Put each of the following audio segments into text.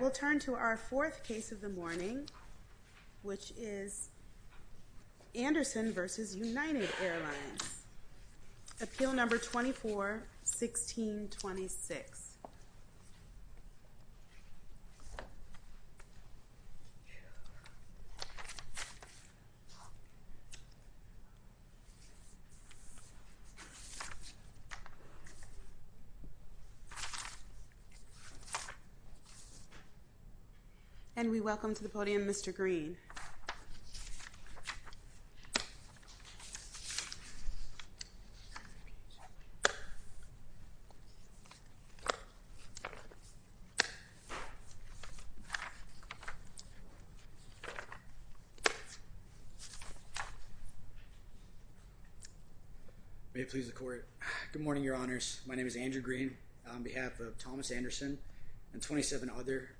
We'll turn to our fourth case of the morning, which is Anderson v. United Airlines, appeal number 241626. And we welcome to the podium Mr. Green. May it please the court, good morning your honors, my name is Andrew Green on behalf of Thomas Anderson and 27 other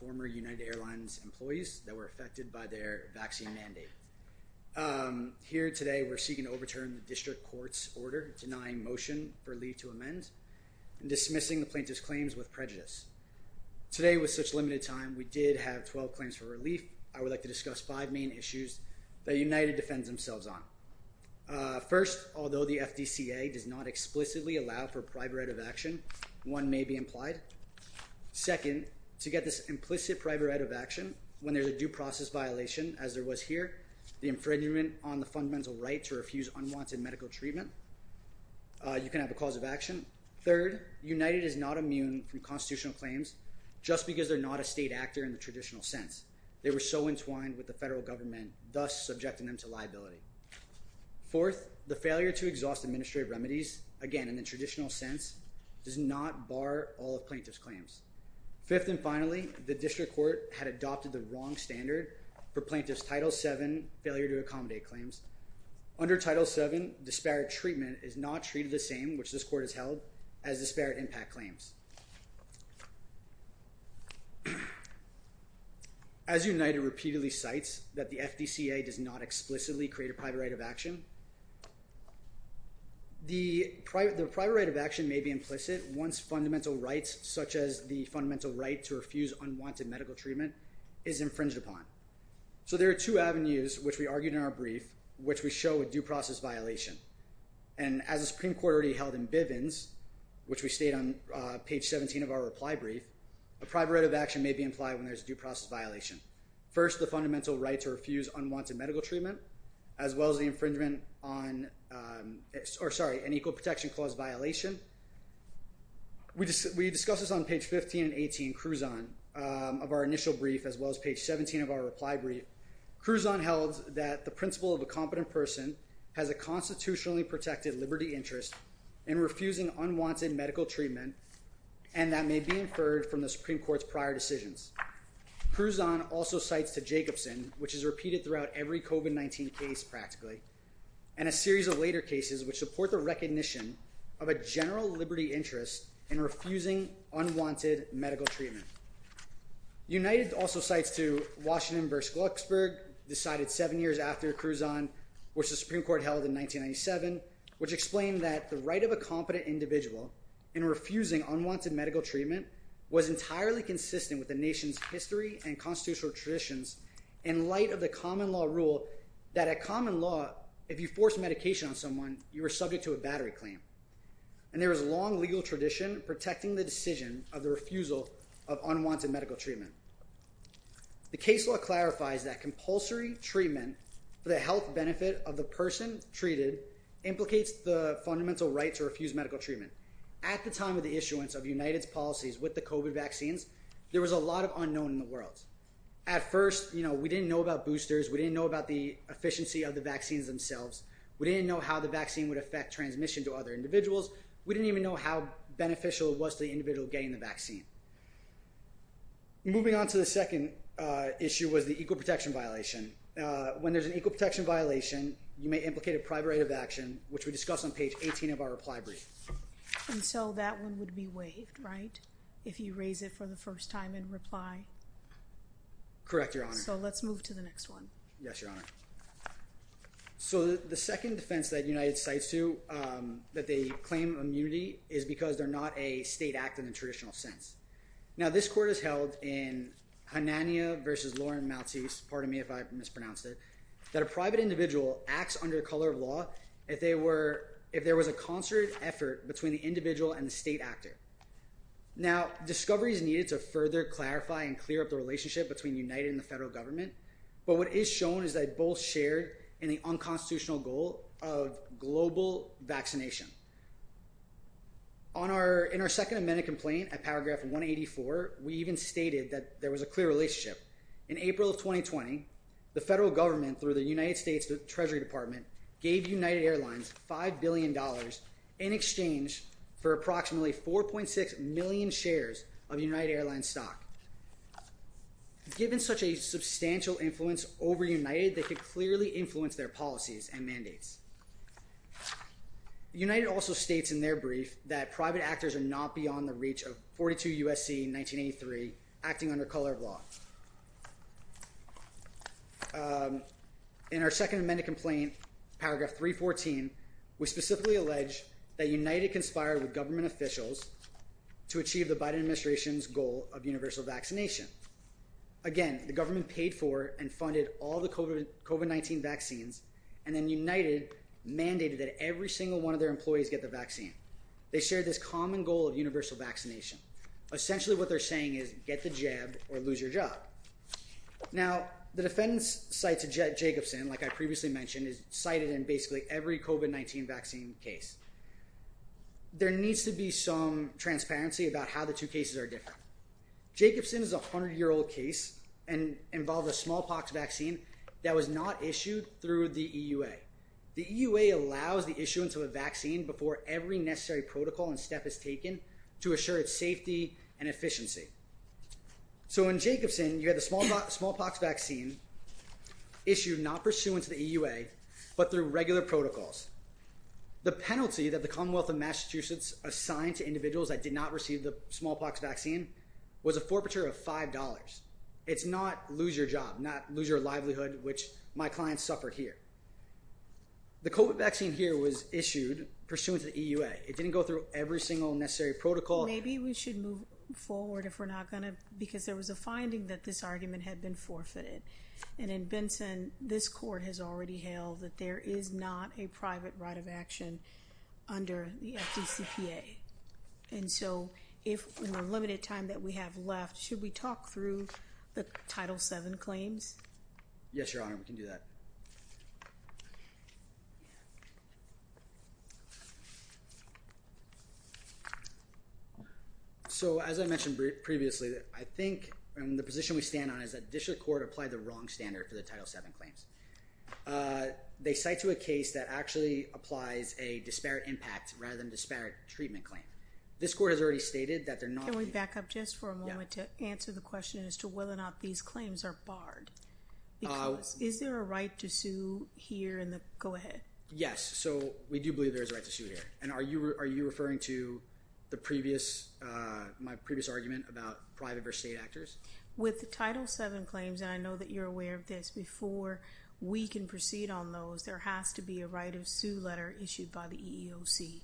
former United Airlines employees that were affected by the COVID-19 vaccine mandate. Here today we're seeking to overturn the district court's order denying motion for leave to amend and dismissing the plaintiff's claims with prejudice. Today with such limited time, we did have 12 claims for relief. I would like to discuss five main issues that United defends themselves on. First, although the FDCA does not explicitly allow for private right of action, one may be implied. Second, to get this implicit private right of action when there's a due process violation, as there was here, the infringement on the fundamental right to refuse unwanted medical treatment, you can have a cause of action. Third, United is not immune from constitutional claims just because they're not a state actor in the traditional sense. They were so entwined with the federal government, thus subjecting them to liability. Fourth, the failure to exhaust administrative remedies, again in the traditional sense, does not bar all of plaintiff's claims. Fifth and finally, the district court had adopted the wrong standard for plaintiff's Title VII failure to accommodate claims. Under Title VII, disparate treatment is not treated the same, which this court has held, as disparate impact claims. As United repeatedly cites that the FDCA does not explicitly create a private right of action, the private right of action may be implicit once fundamental rights, such as the fundamental right to refuse unwanted medical treatment, is infringed upon. So there are two avenues, which we argued in our brief, which we show a due process violation. And as the Supreme Court already held in Bivens, which we state on page 17 of our reply brief, a private right of action may be implied when there's a due process violation. First, the fundamental right to refuse unwanted medical treatment, as well as the infringement on, or sorry, an equal protection clause violation. We discussed this on page 15 and 18, Cruzon, of our initial brief, as well as page 17 of our reply brief. Cruzon held that the principle of a competent person has a constitutionally protected liberty interest in refusing unwanted medical treatment, and that may be inferred from the Supreme Court's prior decisions. Cruzon also cites to Jacobson, which is repeated throughout every COVID-19 case practically, and a series of later cases which support the recognition of a general liberty interest in refusing unwanted medical treatment. United also cites to Washington v. Glucksburg, decided seven years after Cruzon, which the Supreme Court held in 1997, which explained that the right of a competent individual in refusing unwanted medical treatment was entirely consistent with the nation's history and constitutional traditions in light of the common law rule that a common law, if you force medication on someone, you are subject to a battery claim, and there is a long legal tradition protecting the decision of the refusal of unwanted medical treatment. The case law clarifies that compulsory treatment for the health benefit of the person treated implicates the fundamental right to refuse medical treatment. At the time of the issuance of United's policies with the COVID vaccines, there was a lot of unknown in the world. At first, you know, we didn't know about boosters, we didn't know about the efficiency of the vaccines themselves, we didn't know how the vaccine would affect transmission to other individuals, we didn't even know how beneficial it was to the individual getting the vaccine. Moving on to the second issue was the equal protection violation. When there's an equal protection violation, you may implicate a private right of action, which we discuss on page 18 of our reply brief. And so that one would be waived, right? If you raise it for the first time in reply? Correct, Your Honor. So let's move to the next one. Yes, Your Honor. So the second defense that United cites to, that they claim immunity, is because they're not a state act in the traditional sense. Now this court has held in Hanania v. Lauren Maltese, pardon me if I mispronounced it, that a private individual acts under the color of law if there was a concerted effort between the individual and the state actor. Now discovery is needed to further clarify and clear up the relationship between United and the federal government. But what is shown is they both shared in the unconstitutional goal of global vaccination. On our, in our second amendment complaint at paragraph 184, we even stated that there was a clear relationship. In April of 2020, the federal government, through the United States Treasury Department, gave United Airlines $5 billion in exchange for approximately 4.6 million shares of United Airlines stock. Given such a substantial influence over United, they could clearly influence their policies and mandates. United also states in their brief that private actors are not beyond the reach of 42 U.S.C. in 1983, acting under color of law. In our second amendment complaint, paragraph 314, we specifically allege that United conspired with government officials to achieve the Biden administration's goal of universal vaccination. Again, the government paid for and funded all the COVID-19 vaccines, and then United mandated that every single one of their employees get the vaccine. They shared this common goal of universal vaccination. Essentially what they're saying is, get the jab or lose your job. Now the defendants cite to Jacobson, like I previously mentioned, is cited in basically every COVID-19 vaccine case. There needs to be some transparency about how the two cases are different. Jacobson is a hundred year old case and involved a smallpox vaccine that was not issued through the EUA. The EUA allows the issuance of a vaccine before every necessary protocol and step is taken to assure its safety and efficiency. So in Jacobson, you had the smallpox vaccine issued not pursuant to the EUA, but through regular protocols. The penalty that the Commonwealth of Massachusetts assigned to individuals that did not receive the smallpox vaccine was a forfeiture of $5. It's not lose your job, not lose your livelihood, which my clients suffer here. The COVID vaccine here was issued pursuant to the EUA. It didn't go through every single necessary protocol. Maybe we should move forward if we're not going to, because there was a finding that this argument had been forfeited. And in Benson, this court has already held that there is not a private right of action under the FDCPA. And so if in the limited time that we have left, should we talk through the Title VII claims? Yes, Your Honor. We can do that. So, as I mentioned previously, I think, and the position we stand on is that District Court applied the wrong standard for the Title VII claims. They cite to a case that actually applies a disparate impact rather than disparate treatment claim. This court has already stated that they're not- Can we back up just for a moment to answer the question as to whether or not these claims are barred? Is there a right to sue here in the, go ahead. Yes. So we do believe there is a right to sue here. And are you referring to my previous argument about private versus state actors? With the Title VII claims, and I know that you're aware of this, before we can proceed on those, there has to be a right of sue letter issued by the EEOC.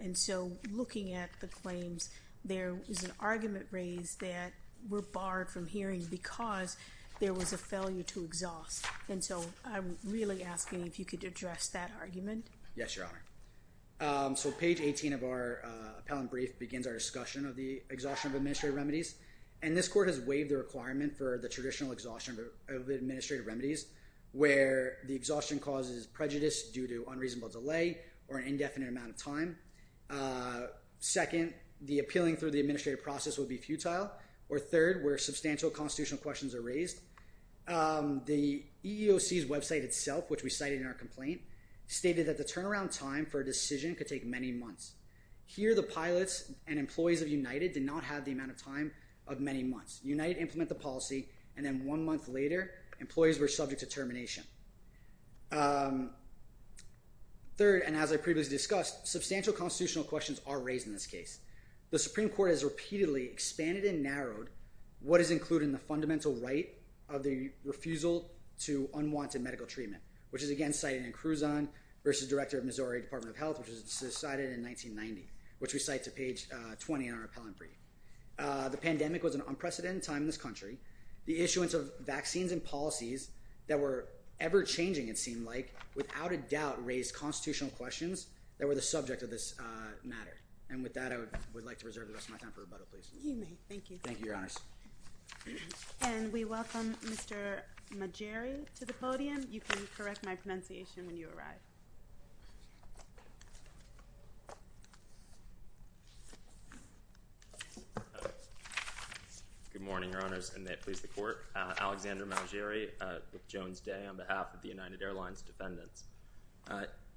And so looking at the claims, there is an argument raised that we're barred from hearing because there was a failure to exhaust. And so I'm really asking if you could address that argument. Yes, Your Honor. So page 18 of our appellant brief begins our discussion of the exhaustion of administrative remedies. And this court has waived the requirement for the traditional exhaustion of administrative remedies where the exhaustion causes prejudice due to unreasonable delay or an indefinite amount of time. Second, the appealing through the administrative process would be futile. Or third, where substantial constitutional questions are raised. The EEOC's website itself, which we cited in our complaint, stated that the turnaround time for a decision could take many months. Here the pilots and employees of United did not have the amount of time of many months. United implement the policy, and then one month later, employees were subject to termination. Third, and as I previously discussed, substantial constitutional questions are raised in this case. The Supreme Court has repeatedly expanded and narrowed what is included in the fundamental right of the refusal to unwanted medical treatment, which is again cited in Cruzon versus Director of Missouri Department of Health, which is cited in 1990, which we cite to page 20 in our appellant brief. The pandemic was an unprecedented time in this country. The issuance of vaccines and policies that were ever-changing, it seemed like, without a doubt raised constitutional questions that were the subject of this matter. And with that, I would like to reserve the rest of my time for rebuttal, please. You may. Thank you. Thank you, Your Honors. And we welcome Mr. Magere to the podium. You can correct my pronunciation when you arrive. Good morning, Your Honors, and may it please the Court. Alexander Magere, with Jones Day on behalf of the United Airlines defendants.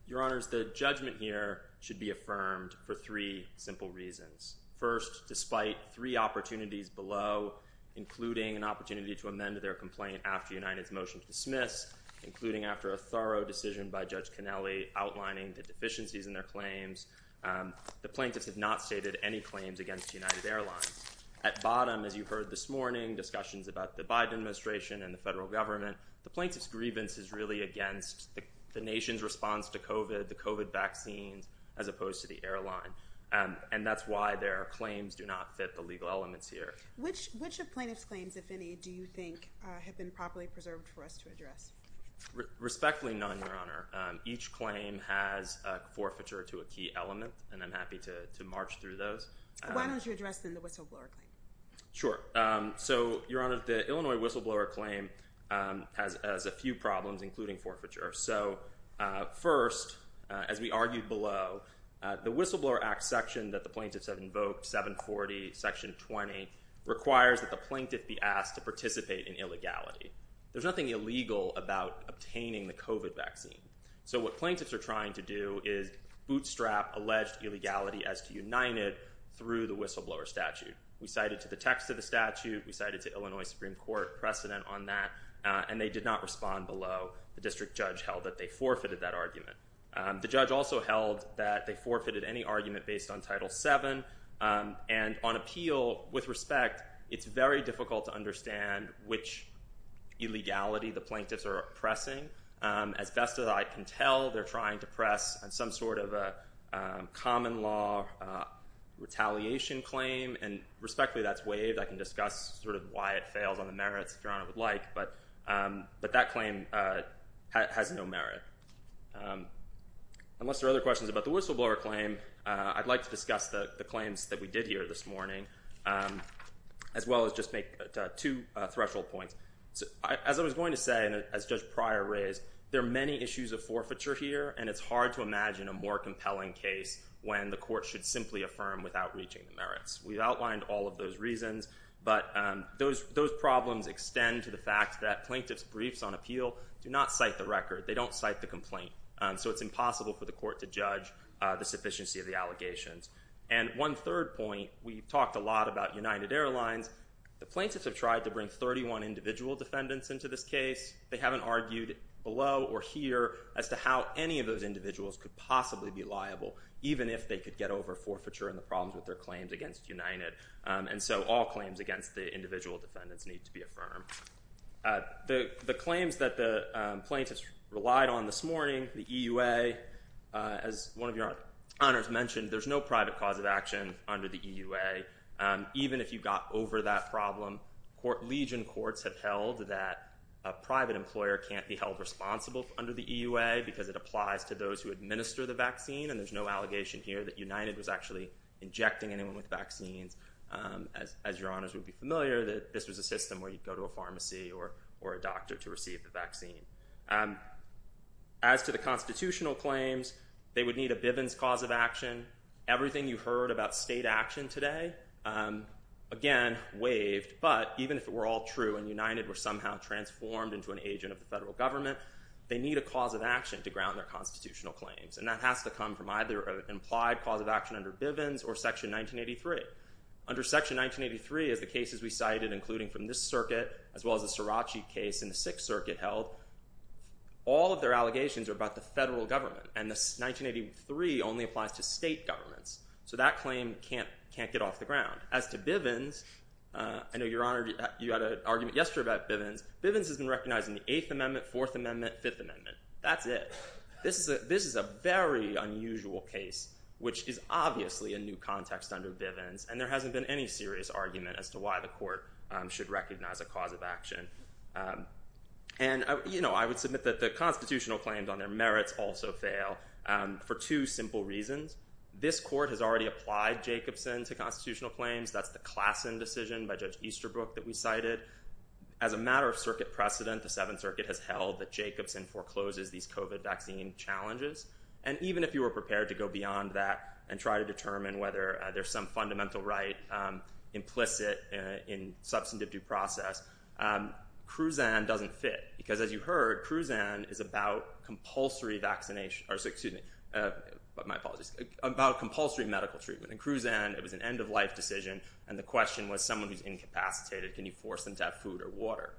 Your Honors, the judgment here should be affirmed for three simple reasons. First, despite three opportunities below, including an opportunity to amend their complaint after United's motion to dismiss, including after a thorough decision by Judge Cannelli outlining the deficiencies in their claims, the plaintiffs have not stated any claims against United Airlines. At bottom, as you heard this morning, discussions about the Biden administration and the federal government, the plaintiff's grievance is really against the nation's response to COVID, the COVID vaccines, as opposed to the airline. And that's why their claims do not fit the legal elements here. Which of the plaintiff's claims, if any, do you think have been properly preserved for us to address? Respectfully none, Your Honor. Each claim has forfeiture to a key element, and I'm happy to march through those. Why don't you address then the whistleblower claim? Sure. So, Your Honor, the Illinois whistleblower claim has a few problems, including forfeiture. So, first, as we argued below, the Whistleblower Act section that the plaintiffs have invoked, 740, Section 20, requires that the plaintiff be asked to participate in illegality. There's nothing illegal about obtaining the COVID vaccine. So what plaintiffs are trying to do is bootstrap alleged illegality as to United through the whistleblower statute. We cited to the text of the statute, we cited to Illinois Supreme Court precedent on that, and they did not respond below. The district judge held that they forfeited that argument. The judge also held that they forfeited any argument based on Title VII, and on appeal, with respect, it's very difficult to understand which illegality the plaintiffs are oppressing. As best as I can tell, they're trying to press some sort of a common law retaliation claim, and respectfully that's waived. I can discuss sort of why it fails on the merits, if Your Honor would like, but that claim has no merit. Unless there are other questions about the whistleblower claim, I'd like to discuss the claims that we did here this morning, as well as just make two threshold points. As I was going to say, and as Judge Pryor raised, there are many issues of forfeiture here, and it's hard to imagine a more compelling case when the court should simply affirm without reaching the merits. We've outlined all of those reasons, but those problems extend to the fact that plaintiffs' briefs on appeal do not cite the record. They don't cite the complaint, so it's impossible for the court to judge the sufficiency of And one third point, we've talked a lot about United Airlines. The plaintiffs have tried to bring 31 individual defendants into this case. They haven't argued below or here as to how any of those individuals could possibly be liable, even if they could get over forfeiture and the problems with their claims against United. And so all claims against the individual defendants need to be affirmed. The claims that the plaintiffs relied on this morning, the EUA, as one of Your Honors mentioned, there's no private cause of action under the EUA. Even if you got over that problem, legion courts have held that a private employer can't be held responsible under the EUA because it applies to those who administer the vaccine. And there's no allegation here that United was actually injecting anyone with vaccines. As Your Honors would be familiar, this was a system where you'd go to a pharmacy or a doctor to receive the vaccine. As to the constitutional claims, they would need a Bivens cause of action. Everything you heard about state action today, again, waived. But even if it were all true and United were somehow transformed into an agent of the federal government, they need a cause of action to ground their constitutional claims. And that has to come from either an implied cause of action under Bivens or Section 1983. Under Section 1983, as the cases we cited, including from this circuit, as well as the Sirachi case in the Sixth Circuit held, all of their allegations are about the federal government. And 1983 only applies to state governments. So that claim can't get off the ground. As to Bivens, I know, Your Honor, you had an argument yesterday about Bivens. Bivens has been recognized in the Eighth Amendment, Fourth Amendment, Fifth Amendment. That's it. This is a very unusual case, which is obviously a new context under Bivens. And there hasn't been any serious argument as to why the court should recognize a cause of action. And I would submit that the constitutional claims on their merits also fail for two simple reasons. This court has already applied Jacobson to constitutional claims. That's the Klassen decision by Judge Easterbrook that we cited. As a matter of circuit precedent, the Seventh Circuit has held that Jacobson forecloses these COVID vaccine challenges. And even if you were prepared to go beyond that and try to determine whether there's some fundamental right implicit in substantive due process, Cruzan doesn't fit. Because as you heard, Cruzan is about compulsory vaccination. Excuse me. My apologies. About compulsory medical treatment. In Cruzan, it was an end-of-life decision. And the question was someone who's incapacitated. Can you force them to have food or water?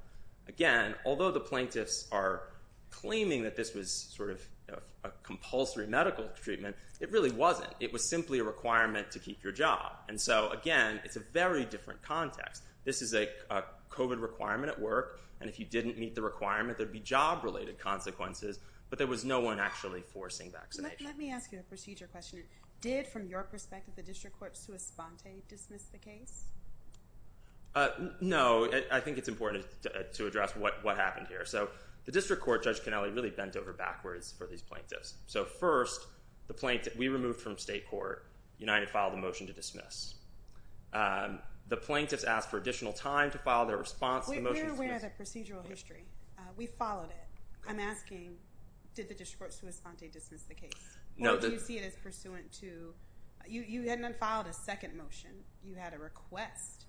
Again, although the plaintiffs are claiming that this was sort of a compulsory medical treatment, it really wasn't. It was simply a requirement to keep your job. And so, again, it's a very different context. This is a COVID requirement at work. And if you didn't meet the requirement, there'd be job-related consequences. But there was no one actually forcing vaccination. Let me ask you a procedure question. Did, from your perspective, the district court sua sponte dismiss the case? No. I think it's important to address what happened here. So the district court, Judge Canelli, really bent over backwards for these plaintiffs. So first, we removed from state court. United filed a motion to dismiss. The plaintiffs asked for additional time to file their response. We're aware of the procedural history. We followed it. I'm asking, did the district court sua sponte dismiss the case? Or do you see it as pursuant to, you hadn't unfiled a second motion. You had a request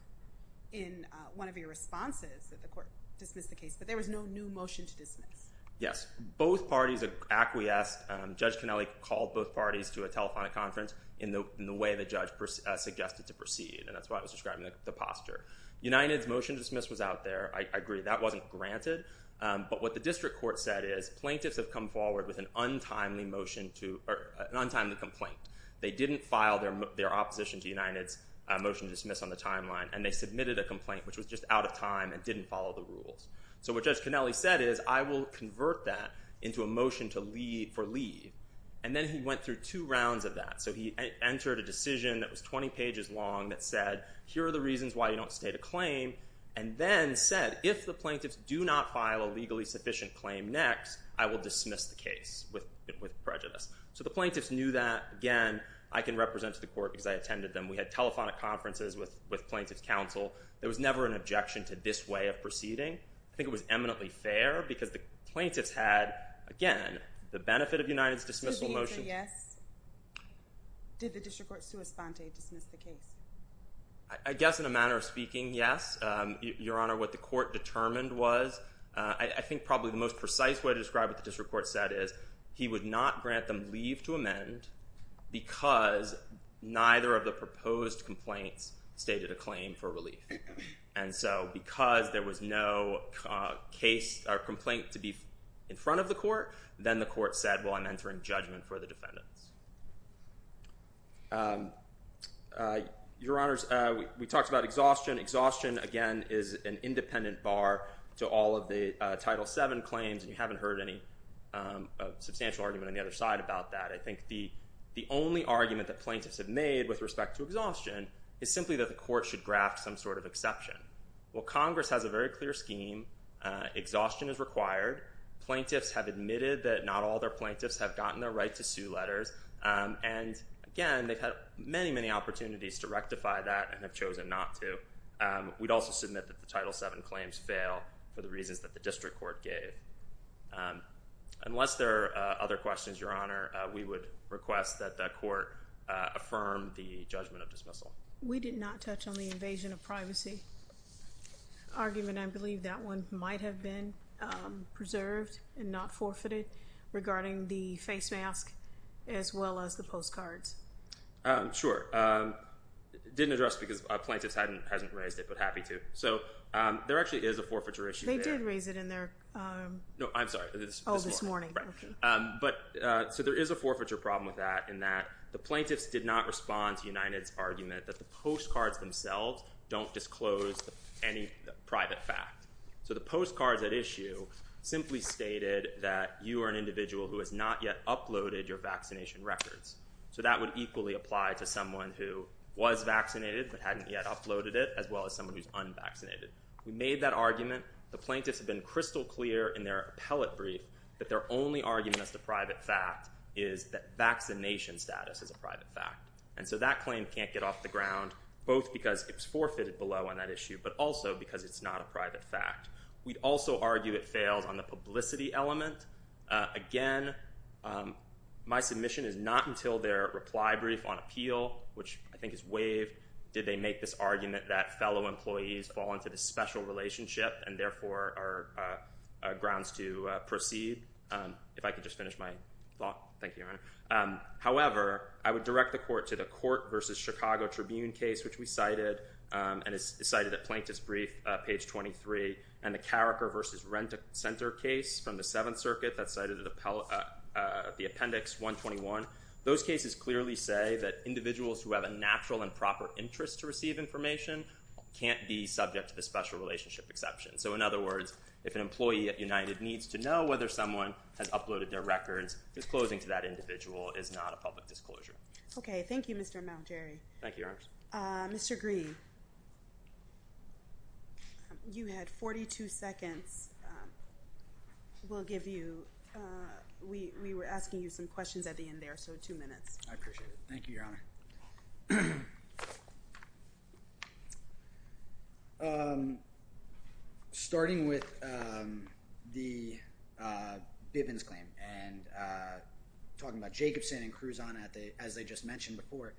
in one of your responses that the court dismiss the case. But there was no new motion to dismiss. Yes. Both parties acquiesced. Judge Canelli called both parties to a telephonic conference in the way the judge suggested to proceed. And that's why I was describing the posture. United's motion to dismiss was out there. I agree. That wasn't granted. But what the district court said is, plaintiffs have come forward with an untimely motion to, or an untimely complaint. They didn't file their opposition to United's motion to dismiss on the timeline. And they submitted a complaint, which was just out of time and didn't follow the rules. So what Judge Canelli said is, I will convert that into a motion for leave. And then he went through two rounds of that. So he entered a decision that was 20 pages long that said, here are the reasons why you don't state a claim. And then said, if the plaintiffs do not file a legally sufficient claim next, I will dismiss the case with prejudice. So the plaintiffs knew that. Again, I can represent to the court because I attended them. We had telephonic conferences with plaintiffs' counsel. There was never an objection to this way of proceeding. I think it was eminently fair because the plaintiffs had, again, the benefit of United's dismissal motion. To the answer, yes. Did the district court, sua sponte, dismiss the case? I guess in a manner of speaking, yes. Your Honor, what the court determined was, I think probably the most precise way to describe what the district court said is, he would not grant them leave to amend because neither of the proposed complaints stated a claim for relief. And so because there was no case or complaint to be in front of the court, then the court said, well, I'm entering judgment for the defendants. Your Honors, we talked about exhaustion. Exhaustion, again, is an independent bar to all of the Title VII claims. And you haven't heard any substantial argument on the other side about that. I think the only argument that plaintiffs have made with respect to exhaustion is simply that the court should graft some sort of exception. Well, Congress has a very clear scheme. Exhaustion is required. Plaintiffs have admitted that not all their plaintiffs have gotten their right to sue letters. And again, they've had many, many opportunities to rectify that and have chosen not to. We'd also submit that the Title VII claims fail for the reasons that the district court gave. Unless there are other questions, Your Honor, we would request that the court affirm the judgment of dismissal. We did not touch on the invasion of privacy argument. I believe that one might have been preserved and not forfeited regarding the face mask as well as the postcards. Sure. Didn't address because plaintiffs hasn't raised it but happy to. So there actually is a forfeiture issue there. They did raise it in their... No, I'm sorry. Oh, this morning. So there is a forfeiture problem with that in that the plaintiffs did not respond to United's argument that the postcards themselves don't disclose any private fact. So the postcards at issue simply stated that you are an individual who has not yet uploaded your vaccination records. So that would equally apply to someone who was vaccinated but hadn't yet uploaded it as well as someone who's unvaccinated. We made that argument. The plaintiffs have been crystal clear in their appellate brief that their only argument as to private fact is that vaccination status is a private fact. And so that claim can't get off the ground both because it was forfeited below on that issue but also because it's not a private fact. We'd also argue it fails on the publicity element. Again, my submission is not until their reply brief on appeal, which I think is waived, did they make this argument that fellow employees fall into this special relationship and therefore are grounds to proceed. If I could just finish my thought. Thank you, Your Honor. However, I would direct the court to the court versus Chicago Tribune case, which we cited and is cited at Plaintiff's Brief, page 23, and the Carriker versus Rent-A-Center case from the Seventh Circuit that's cited at the Appendix 121. Those cases clearly say that individuals who have a natural and proper interest to receive information can't be subject to the special relationship exception. So in other words, if an employee at United needs to know whether someone has uploaded their records, disclosing to that individual is not a public disclosure. Okay. Thank you, Mr. Malgeri. Thank you, Your Honor. Mr. Green, you had 42 seconds. We'll give you—we were asking you some questions at the end there, so two minutes. I appreciate it. Thank you, Your Honor. Starting with the Bivens claim and talking about Jacobson and Cruzano, as they just mentioned before,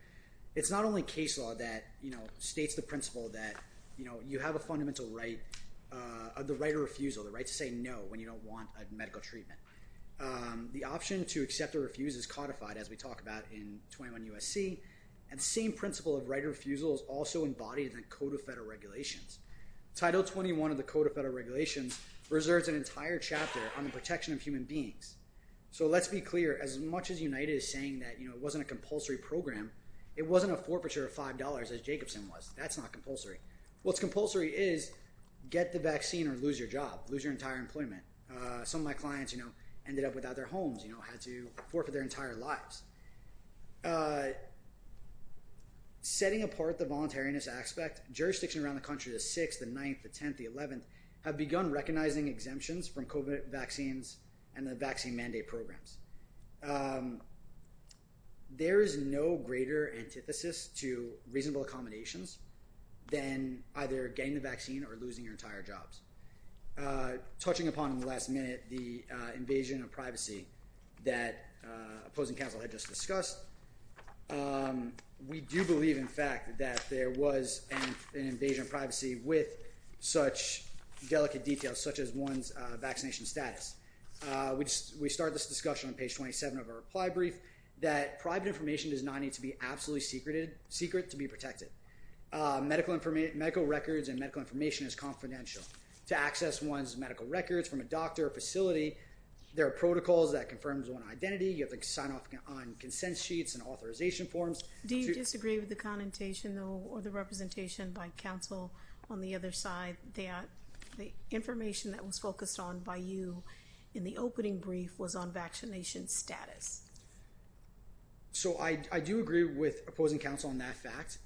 it's not only case law that states the principle that you have a fundamental right of the right of refusal, the right to say no when you don't want medical treatment. The option to accept or refuse is codified, as we talked about in 21 U.S.C., and the same principle of right of refusal is also embodied in the Code of Federal Regulations. Title 21 of the Code of Federal Regulations reserves an entire chapter on the protection of human beings. So let's be clear. As much as United is saying that it wasn't a compulsory program, it wasn't a forfeiture of $5, as Jacobson was. That's not compulsory. What's compulsory is get the vaccine or lose your job, lose your entire employment. Some of my clients ended up without their homes, had to forfeit their entire lives. Setting apart the voluntariness aspect, jurisdictions around the country, the 6th, the 9th, the 10th, the 11th, have begun recognizing exemptions from COVID vaccines and the vaccine mandate programs. There is no greater antithesis to reasonable accommodations than either getting the vaccine or losing your entire jobs. Touching upon in the last minute the invasion of privacy that opposing counsel had just We do believe, in fact, that there was an invasion of privacy with such delicate details such as one's vaccination status. We started this discussion on page 27 of our reply brief that private information does not need to be absolutely secret to be protected. Medical records and medical information is confidential. To access one's medical records from a doctor or facility, there are protocols that confirm one's identity. You have to sign off on consent sheets and authorization forms. Do you disagree with the connotation or the representation by counsel on the other side that the information that was focused on by you in the opening brief was on vaccination status? I do agree with opposing counsel on that fact.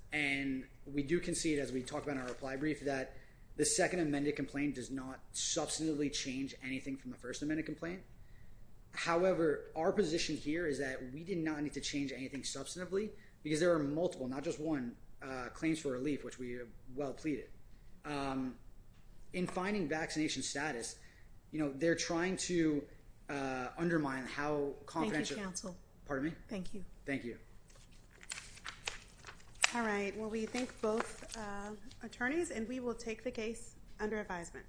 We do concede, as we talk about in our reply brief, that the second amended complaint does not substantively change anything from the first amended complaint. However, our position here is that we did not need to change anything substantively because there are multiple, not just one, claims for relief, which we well pleaded. In finding vaccination status, you know, they're trying to undermine how confidential... Pardon me? Thank you. Thank you. All right. Well, we thank both attorneys and we will take the case under advisement.